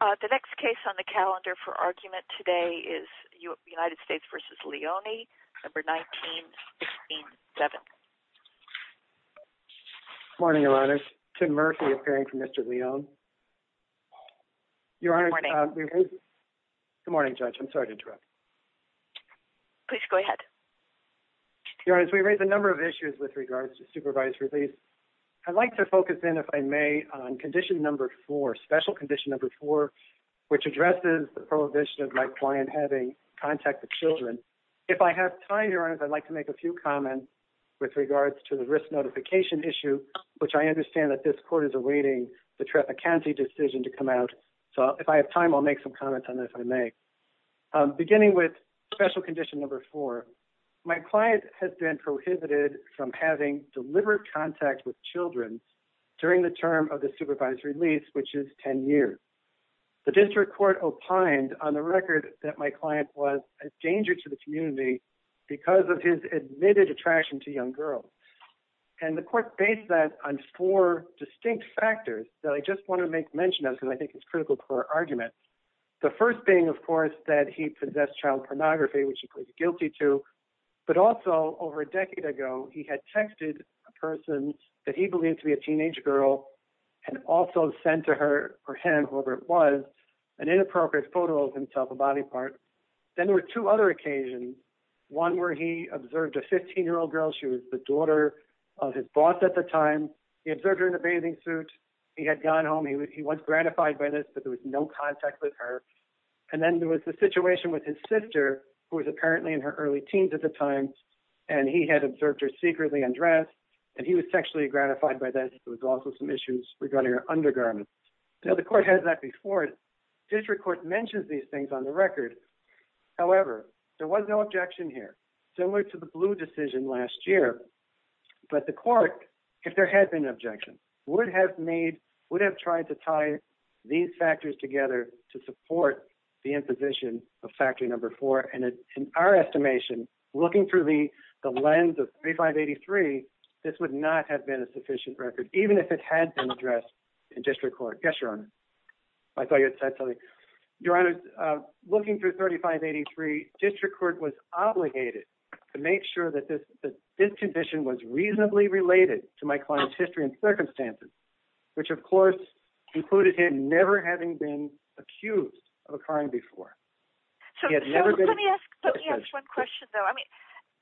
The next case on the calendar for argument today is United States v. Leone, number 19-16-7. Good morning, Your Honor. Tim Murphy, appearing for Mr. Leone. Good morning. Good morning, Judge. I'm sorry to interrupt. Please go ahead. Your Honor, we raised a number of issues with regards to supervised release. I'd like to focus in, if I may, on condition number four, special condition number four, which addresses the prohibition of my client having contact with children. If I have time, Your Honor, I'd like to make a few comments with regards to the risk notification issue, which I understand that this court is awaiting the county decision to come out. So if I have time, I'll make some comments on this, if I may. Beginning with special condition number four, my client has been prohibited from having deliberate contact with children during the term of the supervised release, which is 10 years. The district court opined on the record that my client was a danger to the community because of his admitted attraction to young girls. And the court based that on four distinct factors that I just want to make mention of because I think it's critical to our argument. The first being, of course, that he possessed child pornography, which he pleads guilty to. But also, over a decade ago, he had texted a person that he believed to be a teenage girl and also sent to her or him, whoever it was, an inappropriate photo of himself, a body part. Then there were two other occasions, one where he observed a 15-year-old girl. She was the daughter of his boss at the time. He observed her in a bathing suit. He had gone home. He was gratified by this, but there was no contact with her. And then there was the situation with his sister, who was apparently in her early teens at the time, and he had observed her secretly undressed. And he was sexually gratified by this. There was also some issues regarding her undergarments. Now, the court has that before. The district court mentions these things on the record. However, there was no objection here, similar to the Blue decision last year. But the court, if there had been an objection, would have tried to tie these factors together to support the imposition of Factory No. 4. And in our estimation, looking through the lens of 3583, this would not have been a sufficient record, even if it had been addressed in district court. Yes, Your Honor. I thought you had said something. Your Honor, looking through 3583, district court was obligated to make sure that this condition was reasonably related to my client's history and circumstances, which, of course, included him never having been accused of a crime before. So let me ask one question, though.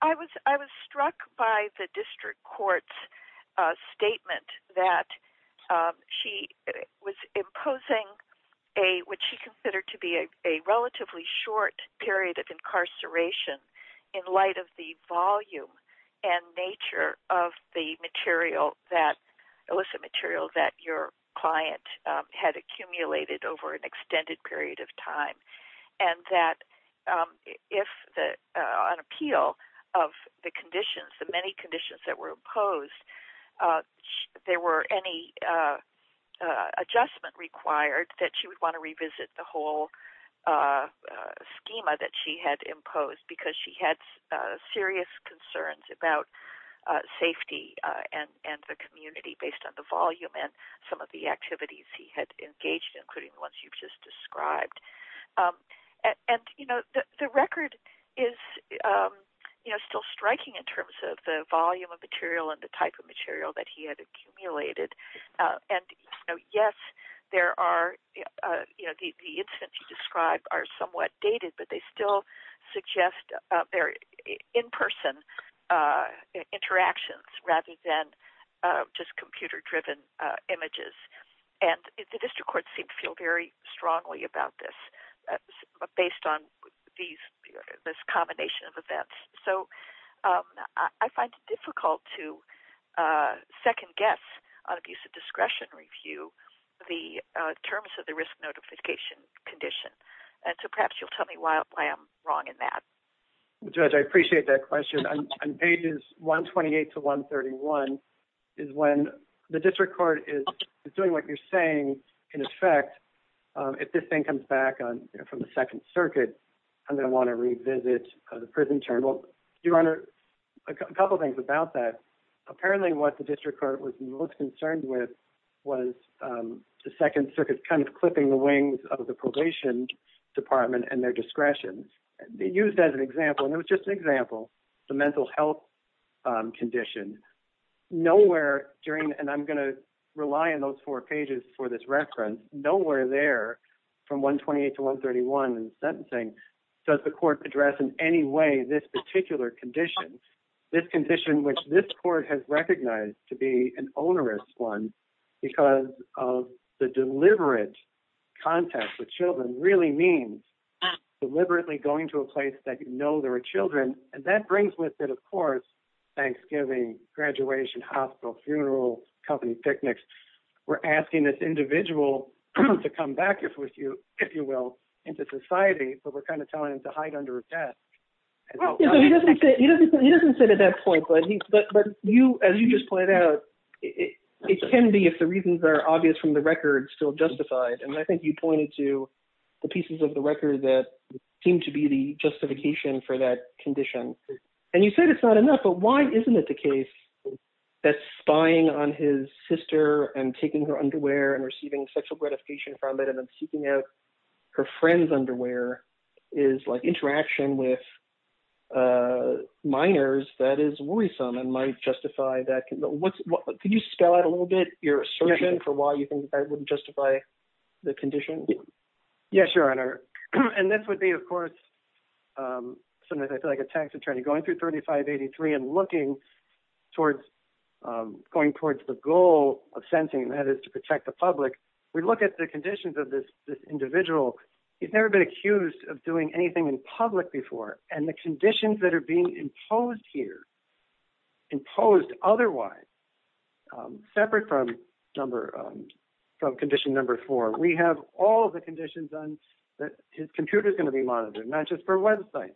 I was struck by the district court's statement that she was imposing what she considered to be a relatively short period of incarceration in light of the volume and nature of the illicit material that your client had accumulated over an extended period of time, and that if on appeal of the conditions, the many conditions that were imposed, there were any adjustment required that she would want to revisit the whole schema that she had imposed because she had serious concerns about safety and the community based on the volume and some of the activities he had engaged in, including the ones you've just described. And, you know, the record is, you know, still striking in terms of the volume of material and the type of material that he had accumulated. And, you know, yes, there are, you know, the incidents you described are somewhat dated, but they still suggest they're in-person interactions rather than just computer-driven images. And the district court seemed to feel very strongly about this based on this combination of events. So I find it difficult to second-guess on abuse of discretion review the terms of the risk notification condition. So perhaps you'll tell me why I'm wrong in that. Judge, I appreciate that question. On pages 128 to 131 is when the district court is doing what you're saying. In effect, if this thing comes back from the Second Circuit, I'm going to want to revisit the prison term. Well, Your Honor, a couple things about that. Apparently what the district court was most concerned with was the Second Circuit kind of clipping the wings of the probation department and their discretion, used as an example, and it was just an example, the mental health condition. Nowhere during, and I'm going to rely on those four pages for this reference, nowhere there from 128 to 131 in sentencing does the court address in any way this particular condition, this condition which this court has recognized to be an onerous one because of the deliberate contact with children really means deliberately going to a place that you know there are children. And that brings with it, of course, Thanksgiving, graduation, hospital, funeral, company picnics. We're asking this individual to come back, if you will, into society, but we're kind of telling him to hide under a desk. He doesn't say that at that point, but as you just pointed out, it can be if the reasons are obvious from the record still justified. And I think you pointed to the pieces of the record that seem to be the justification for that condition. And you said it's not enough, but why isn't it the case that spying on his sister and taking her underwear and receiving sexual gratification from it and then seeking out her friend's underwear is like interaction with minors that is worrisome and might justify that. Can you spell out a little bit your assertion for why you think that wouldn't justify the condition? Yes, Your Honor. And this would be, of course, sometimes I feel like a tax attorney going through 3583 and looking towards going towards the goal of sentencing, that is to protect the public, we look at the conditions of this individual. He's never been accused of doing anything in public before. And the conditions that are being imposed here, imposed otherwise, separate from condition number four, we have all the conditions that his computer is going to be monitored, not just for website,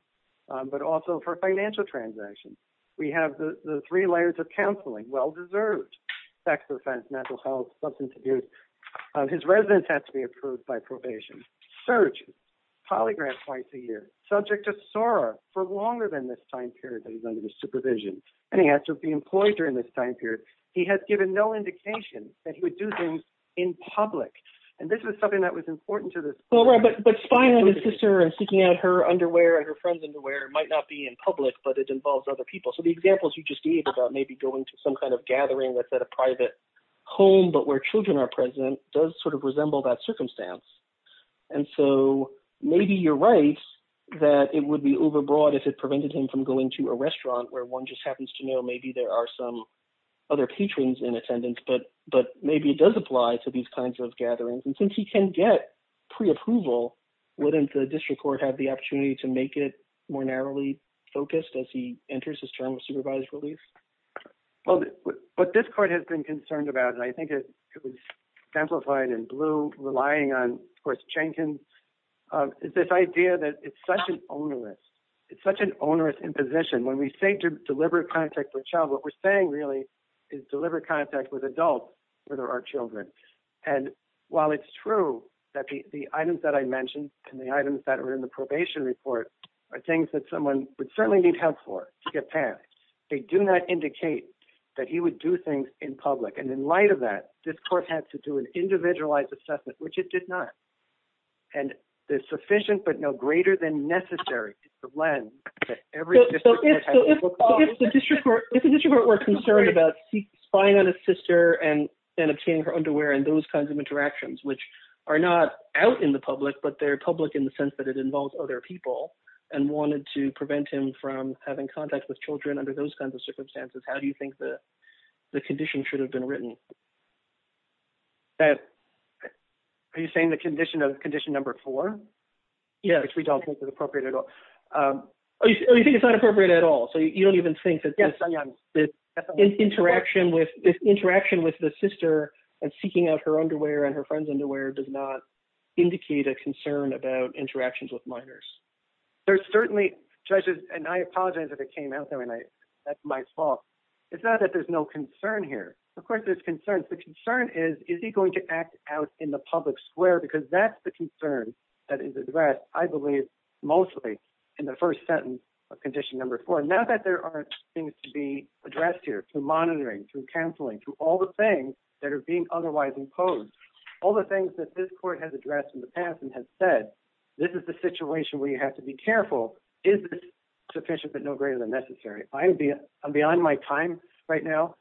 but also for financial transactions. We have the three layers of counseling, well-deserved, sex offense, mental health, substance abuse. His residence has to be approved by probation, searched, polygraphed twice a year, subject to SOAR for longer than this time period that he's under supervision. And he has to be employed during this time period. He has given no indication that he would do things in public. And this was something that was important to this court. But spying on his sister and seeking out her underwear and her friend's underwear might not be in public, but it involves other people. So the examples you just gave about maybe going to some kind of gathering that's at a private home but where children are present does sort of resemble that circumstance. And so maybe you're right that it would be overbroad if it prevented him from going to a restaurant where one just happens to know maybe there are some other patrons in attendance. But maybe it does apply to these kinds of gatherings. And since he can get preapproval, wouldn't the district court have the opportunity to make it more narrowly focused as he enters his term of supervised release? Well, what this court has been concerned about, and I think it was simplified in blue, relying on, of course, Jenkins, is this idea that it's such an onerous imposition. When we say to deliver contact to a child, what we're saying really is deliver contact with adults rather than our children. And while it's true that the items that I mentioned and the items that are in the probation report are things that someone would certainly need help for to get passed, they do not indicate that he would do things in public. And in light of that, this court had to do an individualized assessment, which it did not. And the sufficient but no greater than necessary is the lens that every district court has to look at. So if the district court were concerned about spying on his sister and obtaining her underwear and those kinds of interactions, which are not out in the public, but they're public in the sense that it involves other people, and wanted to prevent him from having contact with children under those kinds of circumstances, how do you think the condition should have been written? Are you saying the condition of condition number four? Yes. Which we don't think is appropriate at all. Oh, you think it's not appropriate at all? So you don't even think that this interaction with the sister and seeking out her underwear and her friend's underwear does not indicate a concern about interactions with minors? There's certainly, judges, and I apologize if it came out that way, that's my fault. It's not that there's no concern here. Of course, there's concerns. The concern is, is he going to act out in the public square? Because that's the concern that is addressed, I believe, mostly in the first sentence of condition number four. Now that there are things to be addressed here, through monitoring, through counseling, through all the things that are being otherwise imposed, all the things that this court has addressed in the past and has said, this is the situation where you have to be careful, is this sufficient but no greater than necessary? I'm beyond my time right now.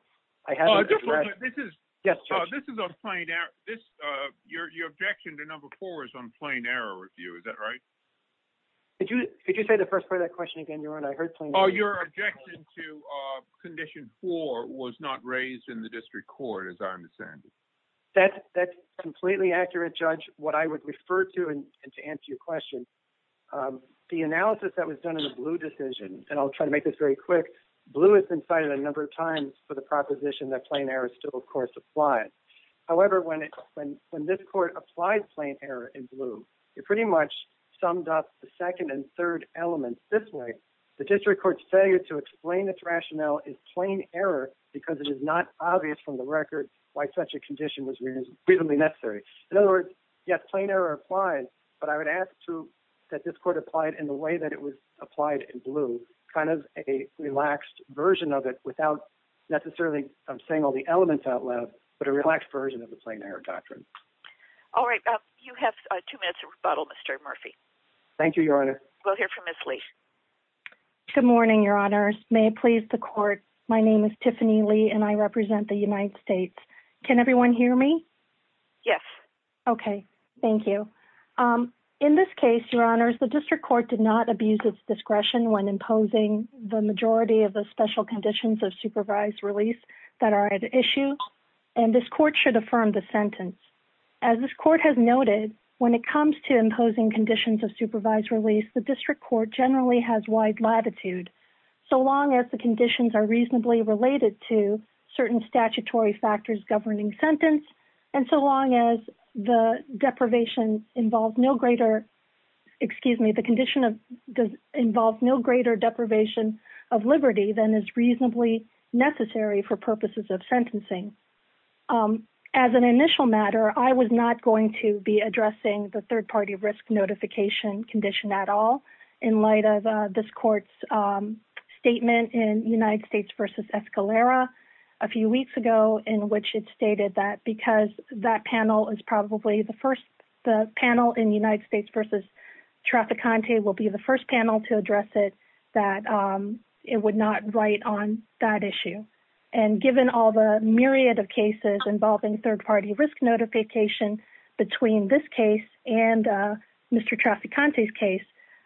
I haven't addressed. This is on plain error. Your objection to number four is on plain error review, is that right? Could you say the first part of that question again, Your Honor? Your objection to condition four was not raised in the district court, as I understand it. That's completely accurate, Judge. What I would refer to, and to answer your question, the analysis that was done in the Blue decision, and I'll try to make this very quick, Blue has been cited a number of times for the proposition that plain error still, of course, applies. However, when this court applied plain error in Blue, it pretty much summed up the second and third elements this way. The district court's failure to explain its rationale is plain error because it is not obvious from the record why such a condition was reasonably necessary. In other words, yes, plain error applies, but I would ask, too, that this court apply it in the way that it was applied in Blue, kind of a relaxed version of it without necessarily saying all the elements out loud, but a relaxed version of the plain error doctrine. All right. You have two minutes to rebuttal, Mr. Murphy. Thank you, Your Honor. We'll hear from Ms. Lee. Good morning, Your Honors. May it please the court, my name is Tiffany Lee, and I represent the United States. Can everyone hear me? Yes. Okay. Thank you. In this case, Your Honors, the district court did not abuse its discretion when imposing the majority of the special conditions of supervised release that are at issue, and this court should affirm the sentence. As this court has noted, when it comes to imposing conditions of supervised release, the district court generally has wide latitude, so long as the conditions are reasonably related to certain statutory factors governing sentence, and so long as the condition involves no greater deprivation of liberty than is reasonably necessary for purposes of sentencing. As an initial matter, I was not going to be addressing the third-party risk notification condition at all in light of this court's statement in United States v. Escalera a few weeks ago in which it stated that because that panel is probably the first — the panel in United States v. Trafficante will be the first panel to address it, that it would not write on that issue. And given all the myriad of cases involving third-party risk notification between this case and Mr. Trafficante's case,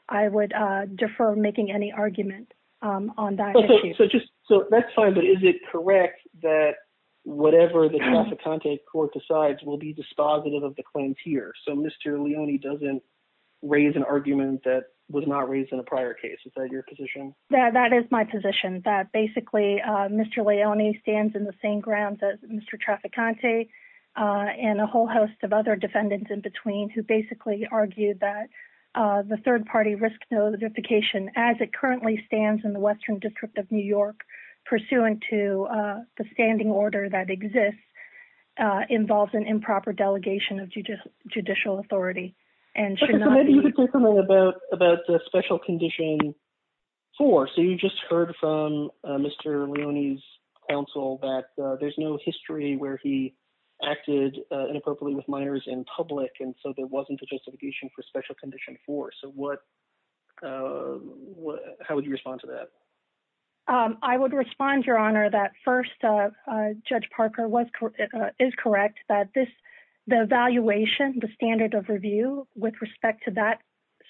I would defer making any argument on that issue. So just — so that's fine, but is it correct that whatever the Trafficante court decides will be dispositive of the claims here, so Mr. Leone doesn't raise an argument that was not raised in a prior case? Is that your position? That is my position, that basically Mr. Leone stands in the same grounds as Mr. Trafficante and a whole host of other defendants in between who basically argue that the third-party risk notification, as it currently stands in the Western District of New York pursuant to the standing order that exists, involves an improper delegation of judicial authority and should not be — Maybe you could say something about Special Condition 4. So you just heard from Mr. Leone's counsel that there's no history where he acted inappropriately with minors in public, and so there wasn't a justification for Special Condition 4. So what — how would you respond to that? I would respond, Your Honor, that first, Judge Parker was — is correct that this — the evaluation, the standard of review with respect to that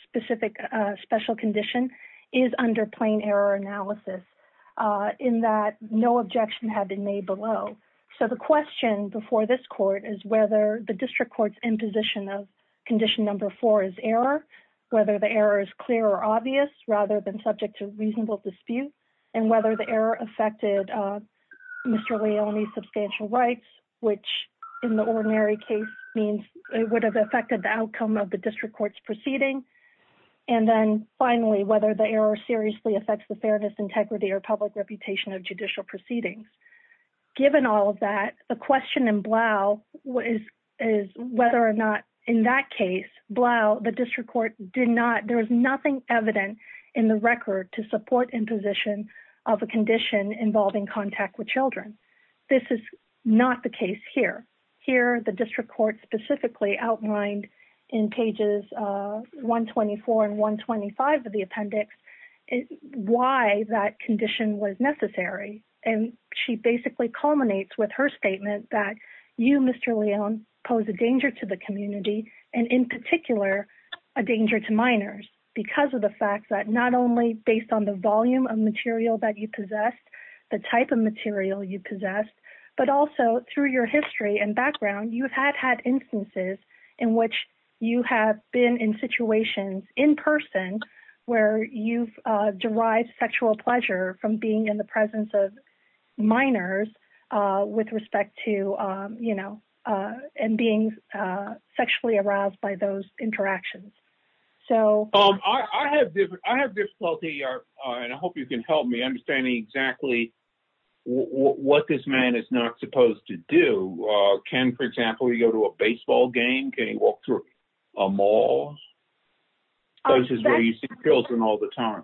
specific special condition is under plain error analysis in that no objection had been made below. So the question before this court is whether the district court's imposition of Condition Number 4 is error, whether the error is clear or obvious rather than subject to reasonable dispute, and whether the error affected Mr. Leone's substantial rights, which in the ordinary case means it would have affected the outcome of the district court's proceeding, and then finally, whether the error seriously affects the fairness, integrity, or public reputation of judicial proceedings. Given all of that, the question in Blau is whether or not, in that case, Blau, the district court did not — there is nothing evident in the record to support imposition of a condition involving contact with children. This is not the case here. Here, the district court specifically outlined in pages 124 and 125 of the appendix why that condition was necessary, and she basically culminates with her statement that you, Mr. Leone, pose a danger to the community and, in particular, a danger to minors because of the fact that not only based on the volume of material that you possessed, the type of material you possessed, but also through your history and background, you have had instances in which you have been in situations in person where you've derived sexual pleasure from being in the presence of minors with respect to, you know, and being sexually aroused by those interactions. I have difficulty, and I hope you can help me, understanding exactly what this man is not supposed to do. Can, for example, he go to a baseball game? Can he walk through a mall? Those are where you see children all the time.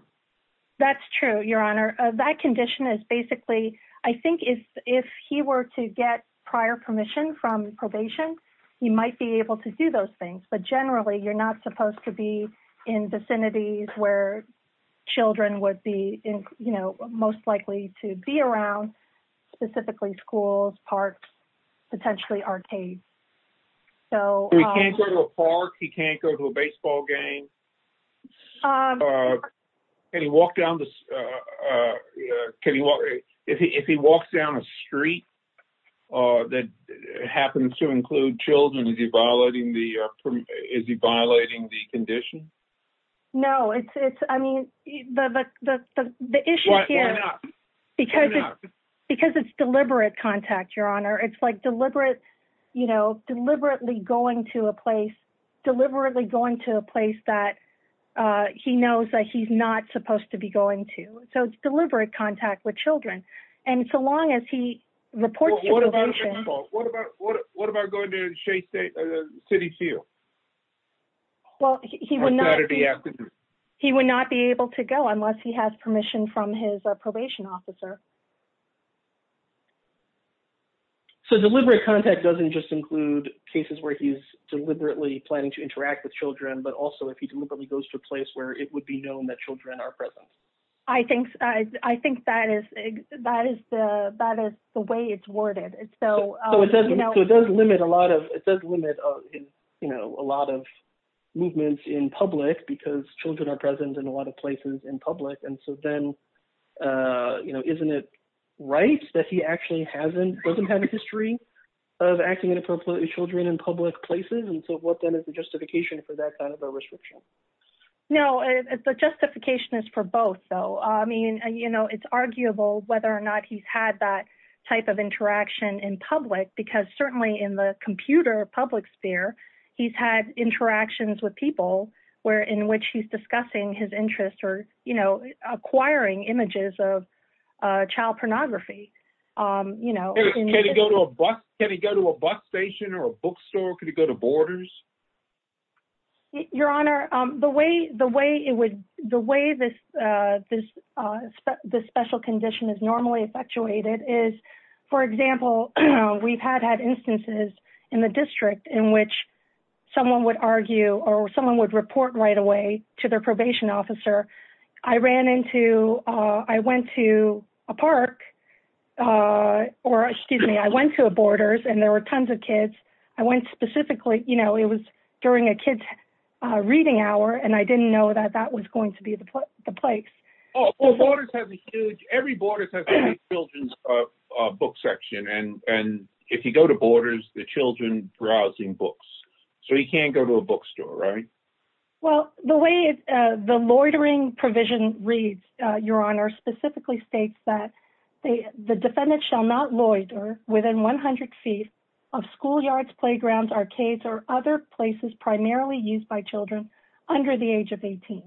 That's true, Your Honor. That condition is basically — I think if he were to get prior permission from probation, he might be able to do those things. But generally, you're not supposed to be in vicinities where children would be, you know, most likely to be around, specifically schools, parks, potentially arcades. He can't go to a park? He can't go to a baseball game? Can he walk down the — if he walks down a street that happens to include children, is he violating the condition? No, it's — I mean, the issue here — Why not? Why not? Because it's deliberate contact, Your Honor. It's like deliberate, you know, deliberately going to a place, deliberately going to a place that he knows that he's not supposed to be going to. So it's deliberate contact with children. And so long as he reports to probation — Well, what about baseball? What about going to Shea State City Field? Well, he would not be able to go unless he has permission from his probation officer. So deliberate contact doesn't just include cases where he's deliberately planning to interact with children, but also if he deliberately goes to a place where it would be known that children are present. I think that is the way it's worded. So — But he doesn't have, you know, a lot of movements in public because children are present in a lot of places in public. And so then, you know, isn't it right that he actually hasn't — doesn't have a history of acting inappropriately with children in public places? And so what then is the justification for that kind of a restriction? No, the justification is for both, though. I mean, you know, it's arguable whether or not he's had that type of interaction in public, because certainly in the computer public sphere, he's had interactions with people where — in which he's discussing his interests or, you know, acquiring images of child pornography. Can he go to a bus station or a bookstore? Could he go to Borders? Your Honor, the way it would — the way this special condition is normally effectuated is, for example, we've had had instances in the district in which someone would argue or someone would report right away to their probation officer, I ran into — I went to a park — or, excuse me, I went to a Borders, and there were tons of kids. I went specifically — you know, it was during a kid's reading hour, and I didn't know that that was going to be the place. Oh, well, Borders has a huge — every Borders has a huge children's book section. And if you go to Borders, the children browsing books. So he can't go to a bookstore, right? Well, the way the loitering provision reads, Your Honor, specifically states that the defendant shall not loiter within 100 feet of schoolyards, playgrounds, arcades, or other places primarily used by children under the age of 18.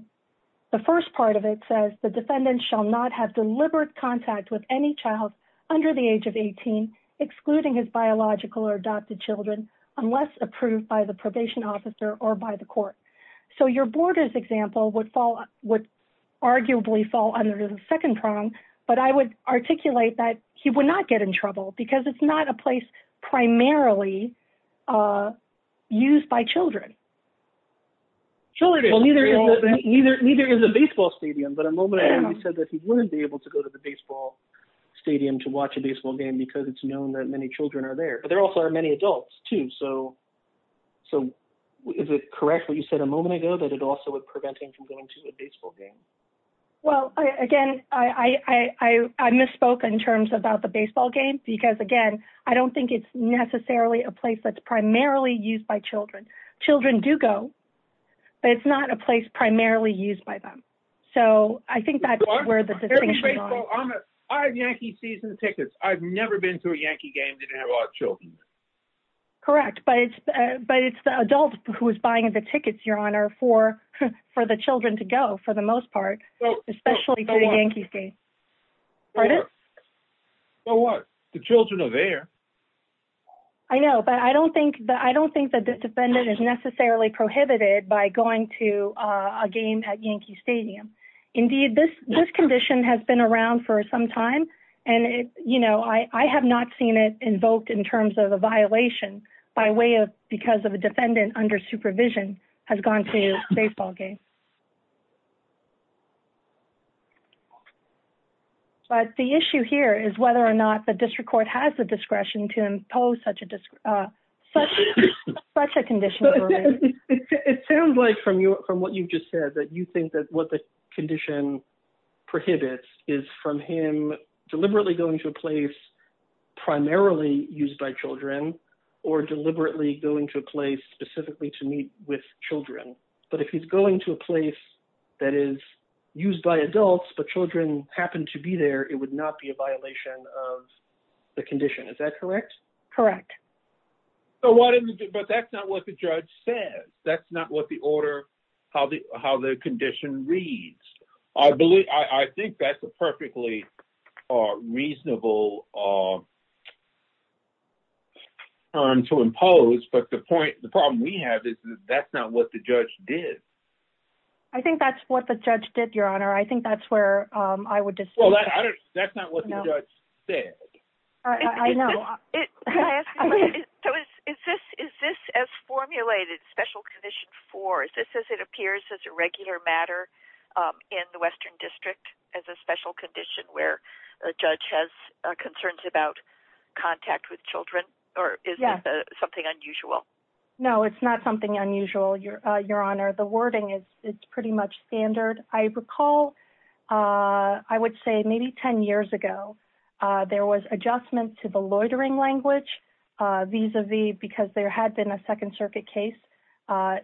The first part of it says the defendant shall not have deliberate contact with any child under the age of 18, excluding his biological or adopted children, unless approved by the probation officer or by the court. So your Borders example would arguably fall under the second prong, but I would articulate that he would not get in trouble because it's not a place primarily used by children. Well, neither is a baseball stadium, but a moment ago you said that he wouldn't be able to go to the baseball stadium to watch a baseball game because it's known that many children are there, but there also are many adults, too. So is it correct what you said a moment ago, that it also would prevent him from going to a baseball game? Well, again, I misspoke in terms of the baseball game because, again, I don't think it's necessarily a place that's primarily used by children. Children do go, but it's not a place primarily used by them. So I think that's where the distinction is. I have Yankee season tickets. I've never been to a Yankee game that didn't have a lot of children. Correct, but it's the adult who is buying the tickets, Your Honor, for the children to go, for the most part, especially to the Yankee game. So what? The children are there. I know, but I don't think that the defendant is necessarily prohibited by going to a game at Yankee Stadium. Indeed, this condition has been around for some time, and I have not seen it invoked in terms of a violation because a defendant under supervision has gone to a baseball game. But the issue here is whether or not the district court has the discretion to impose such a condition. It sounds like, from what you've just said, that you think that what the condition prohibits is from him deliberately going to a place primarily used by children or deliberately going to a place specifically to meet with children. But if he's going to a place that is used by adults, but children happen to be there, it would not be a violation of the condition. Is that correct? Correct. But that's not what the judge said. That's not how the condition reads. I think that's a perfectly reasonable term to impose, but the problem we have is that's not what the judge did. I think that's what the judge did, Your Honor. I think that's where I would disagree. Well, that's not what the judge said. I know. Can I ask you a question? Is this, as formulated, Special Condition 4, is this as it appears as a regular matter in the Western District as a special condition where a judge has concerns about contact with children, or is this something unusual? No, it's not something unusual, Your Honor. The wording is pretty much standard. I recall, I would say maybe 10 years ago, there was adjustment to the loitering language vis-a-vis because there had been a Second Circuit case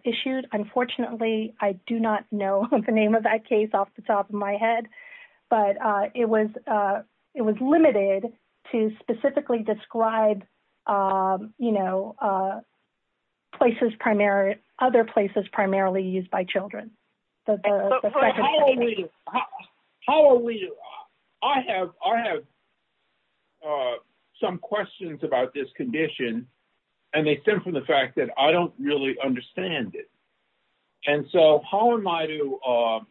issued. Unfortunately, I do not know the name of that case off the top of my head, but it was limited to specifically describe other places primarily used by children. I have some questions about this condition, and they stem from the fact that I don't really understand it. How am I to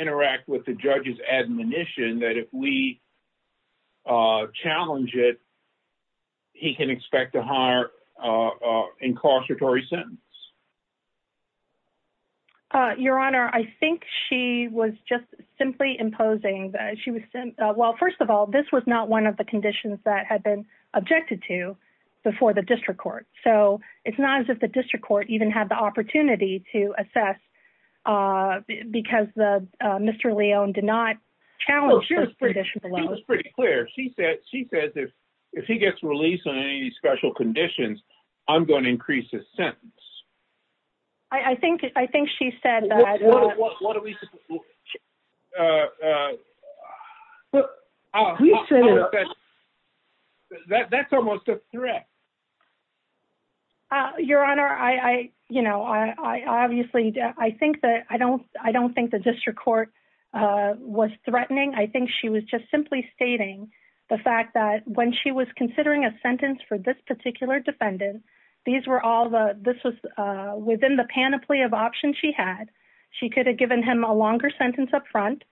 interact with the judge's admonition that if we challenge it, he can expect a higher incarceratory sentence? Your Honor, I think she was just simply imposing. Well, first of all, this was not one of the conditions that had been objected to before the District Court, so it's not as if the District Court even had the opportunity to assess because Mr. Leone did not challenge this condition below. She was pretty clear. She said if he gets released on any special conditions, I'm going to increase his sentence. I think she said that. What are we supposed to look at? That's almost a threat. Your Honor, I don't think the District Court was threatening. I think she was just simply stating the fact that when she was considering a sentence for this particular defendant, this was within the panoply of options she had. She could have given him a longer sentence up front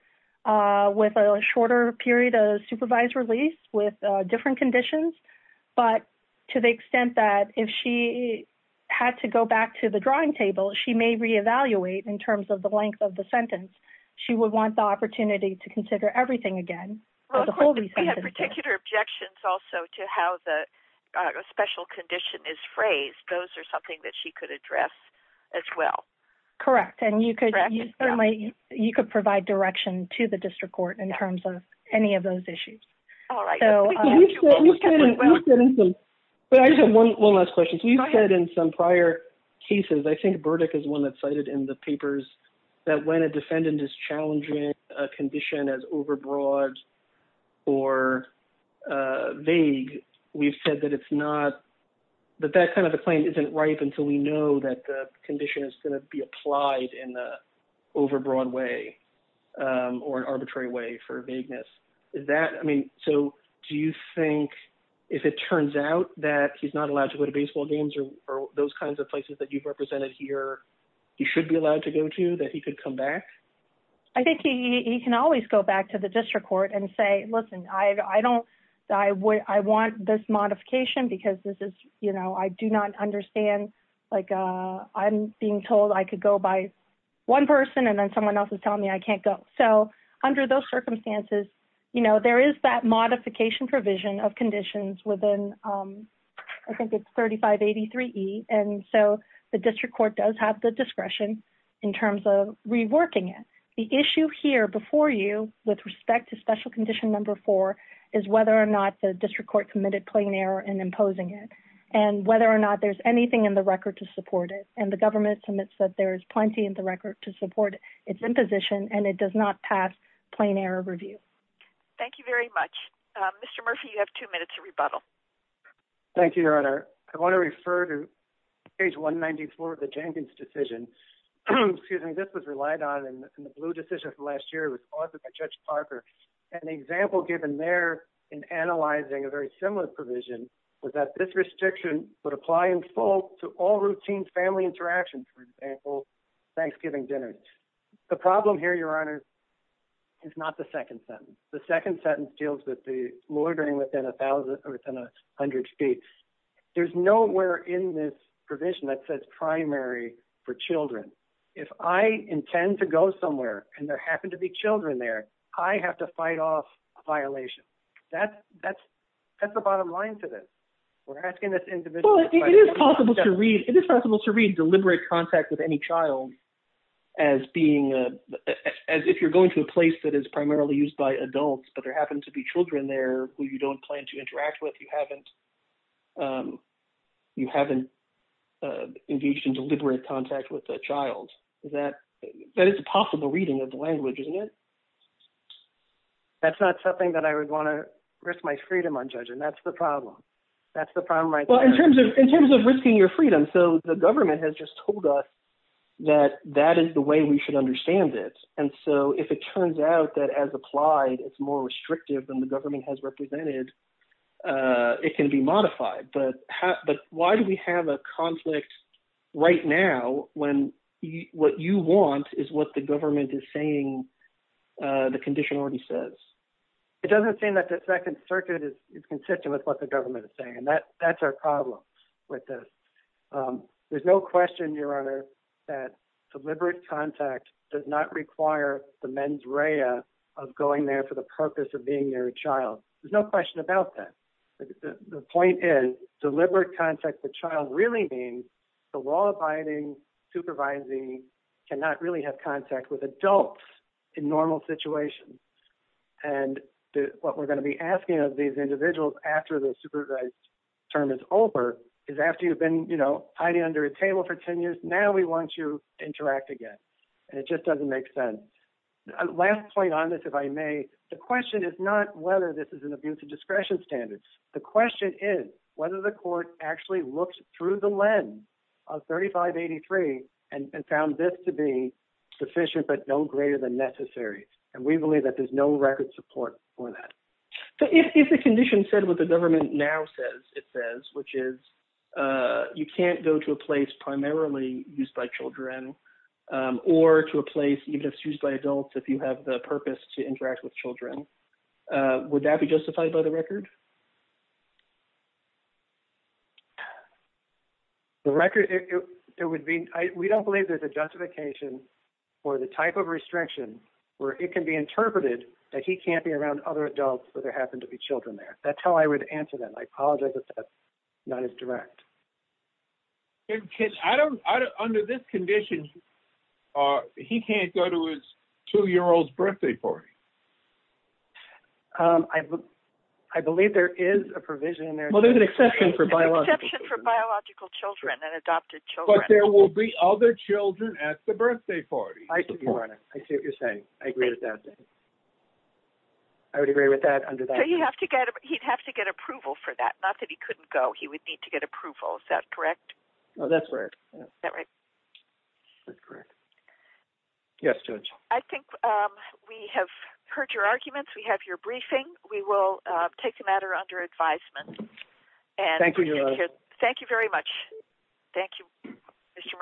with a shorter period of supervised release with different conditions, but to the extent that if she had to go back to the drawing table, she may reevaluate in terms of the length of the sentence. She would want the opportunity to consider everything again. We had particular objections also to how the special condition is phrased. Those are something that she could address as well. Correct, and you could provide direction to the District Court in terms of any of those issues. All right. I just have one last question. You said in some prior cases, I think Burdick is one that's cited in the papers, that when a defendant is challenging a condition as overbroad or vague, we've said that that kind of a claim isn't ripe until we know that the condition is going to be applied in an overbroad way or an arbitrary way for vagueness. Do you think, if it turns out that he's not allowed to go to baseball games or those kinds of places that you've represented here, he should be allowed to go to, that he could come back? I think he can always go back to the District Court and say, listen, I want this modification because I do not understand. I'm being told I could go by one person and then someone else is telling me I can't go. Under those circumstances, there is that modification provision of conditions within, I think it's 3583E, and so the District Court does have the discretion in terms of reworking it. The issue here before you with respect to special condition number four is whether or not the District Court committed plain error in imposing it and whether or not there's anything in the record to support it. And the government admits that there is plenty in the record to support its imposition, and it does not pass plain error review. Thank you very much. Mr. Murphy, you have two minutes to rebuttal. Thank you, Your Honor. I want to refer to page 194 of the Jenkins decision. Excuse me. This was relied on in the blue decision from last year. It was authored by Judge Parker. An example given there in analyzing a very similar provision was that this restriction would apply in full to all routine family interactions, for example, Thanksgiving dinners. The problem here, Your Honor, is not the second sentence. The second sentence deals with the murdering within a hundred states. There's nowhere in this provision that says primary for children. If I intend to go somewhere and there happen to be children there, I have to fight off a violation. That's the bottom line to this. We're asking this individual to fight off a violation. You haven't engaged in deliberate contact with a child. That is a possible reading of the language, isn't it? That's not something that I would want to risk my freedom on, Judge, and that's the problem. That's the problem right there. Well, in terms of risking your freedom, so the government has just told us that that is the way we should understand it. And so if it turns out that, as applied, it's more restrictive than the government has represented, it can be modified. But why do we have a conflict right now when what you want is what the government is saying the condition already says? It doesn't seem that the Second Circuit is consistent with what the government is saying, and that's our problem with this. There's no question, Your Honor, that deliberate contact does not require the mens rea of going there for the purpose of being near a child. There's no question about that. The point is, deliberate contact with a child really means the law-abiding supervising cannot really have contact with adults in normal situations. And what we're going to be asking of these individuals after the supervised term is over is after you've been, you know, hiding under a table for 10 years, now we want you to interact again. And it just doesn't make sense. Last point on this, if I may, the question is not whether this is an abuse of discretion standards. The question is whether the court actually looked through the lens of 3583 and found this to be sufficient but no greater than necessary. And we believe that there's no record support for that. So if the condition said what the government now says it says, which is you can't go to a place primarily used by children or to a place used by adults if you have the purpose to interact with children, would that be justified by the record? The record, it would be, we don't believe there's a justification for the type of restriction where it can be interpreted that he can't be around other adults but there happen to be children there. That's how I would answer that. And I apologize if that's not as direct. Under this condition, he can't go to his 2-year-old's birthday party? I believe there is a provision in there. Well, there's an exception for biological children. There's an exception for biological children and adopted children. But there will be other children at the birthday party. I see what you're saying. I agree with that. I would agree with that under that condition. So he'd have to get approval for that. Not that he couldn't go. He would need to get approval. Is that correct? That's correct. Is that right? That's correct. Yes, Judge. I think we have heard your arguments. We have your briefing. We will take the matter under advisement. Thank you, Your Honor. Thank you very much. Thank you, Mr. Murphy.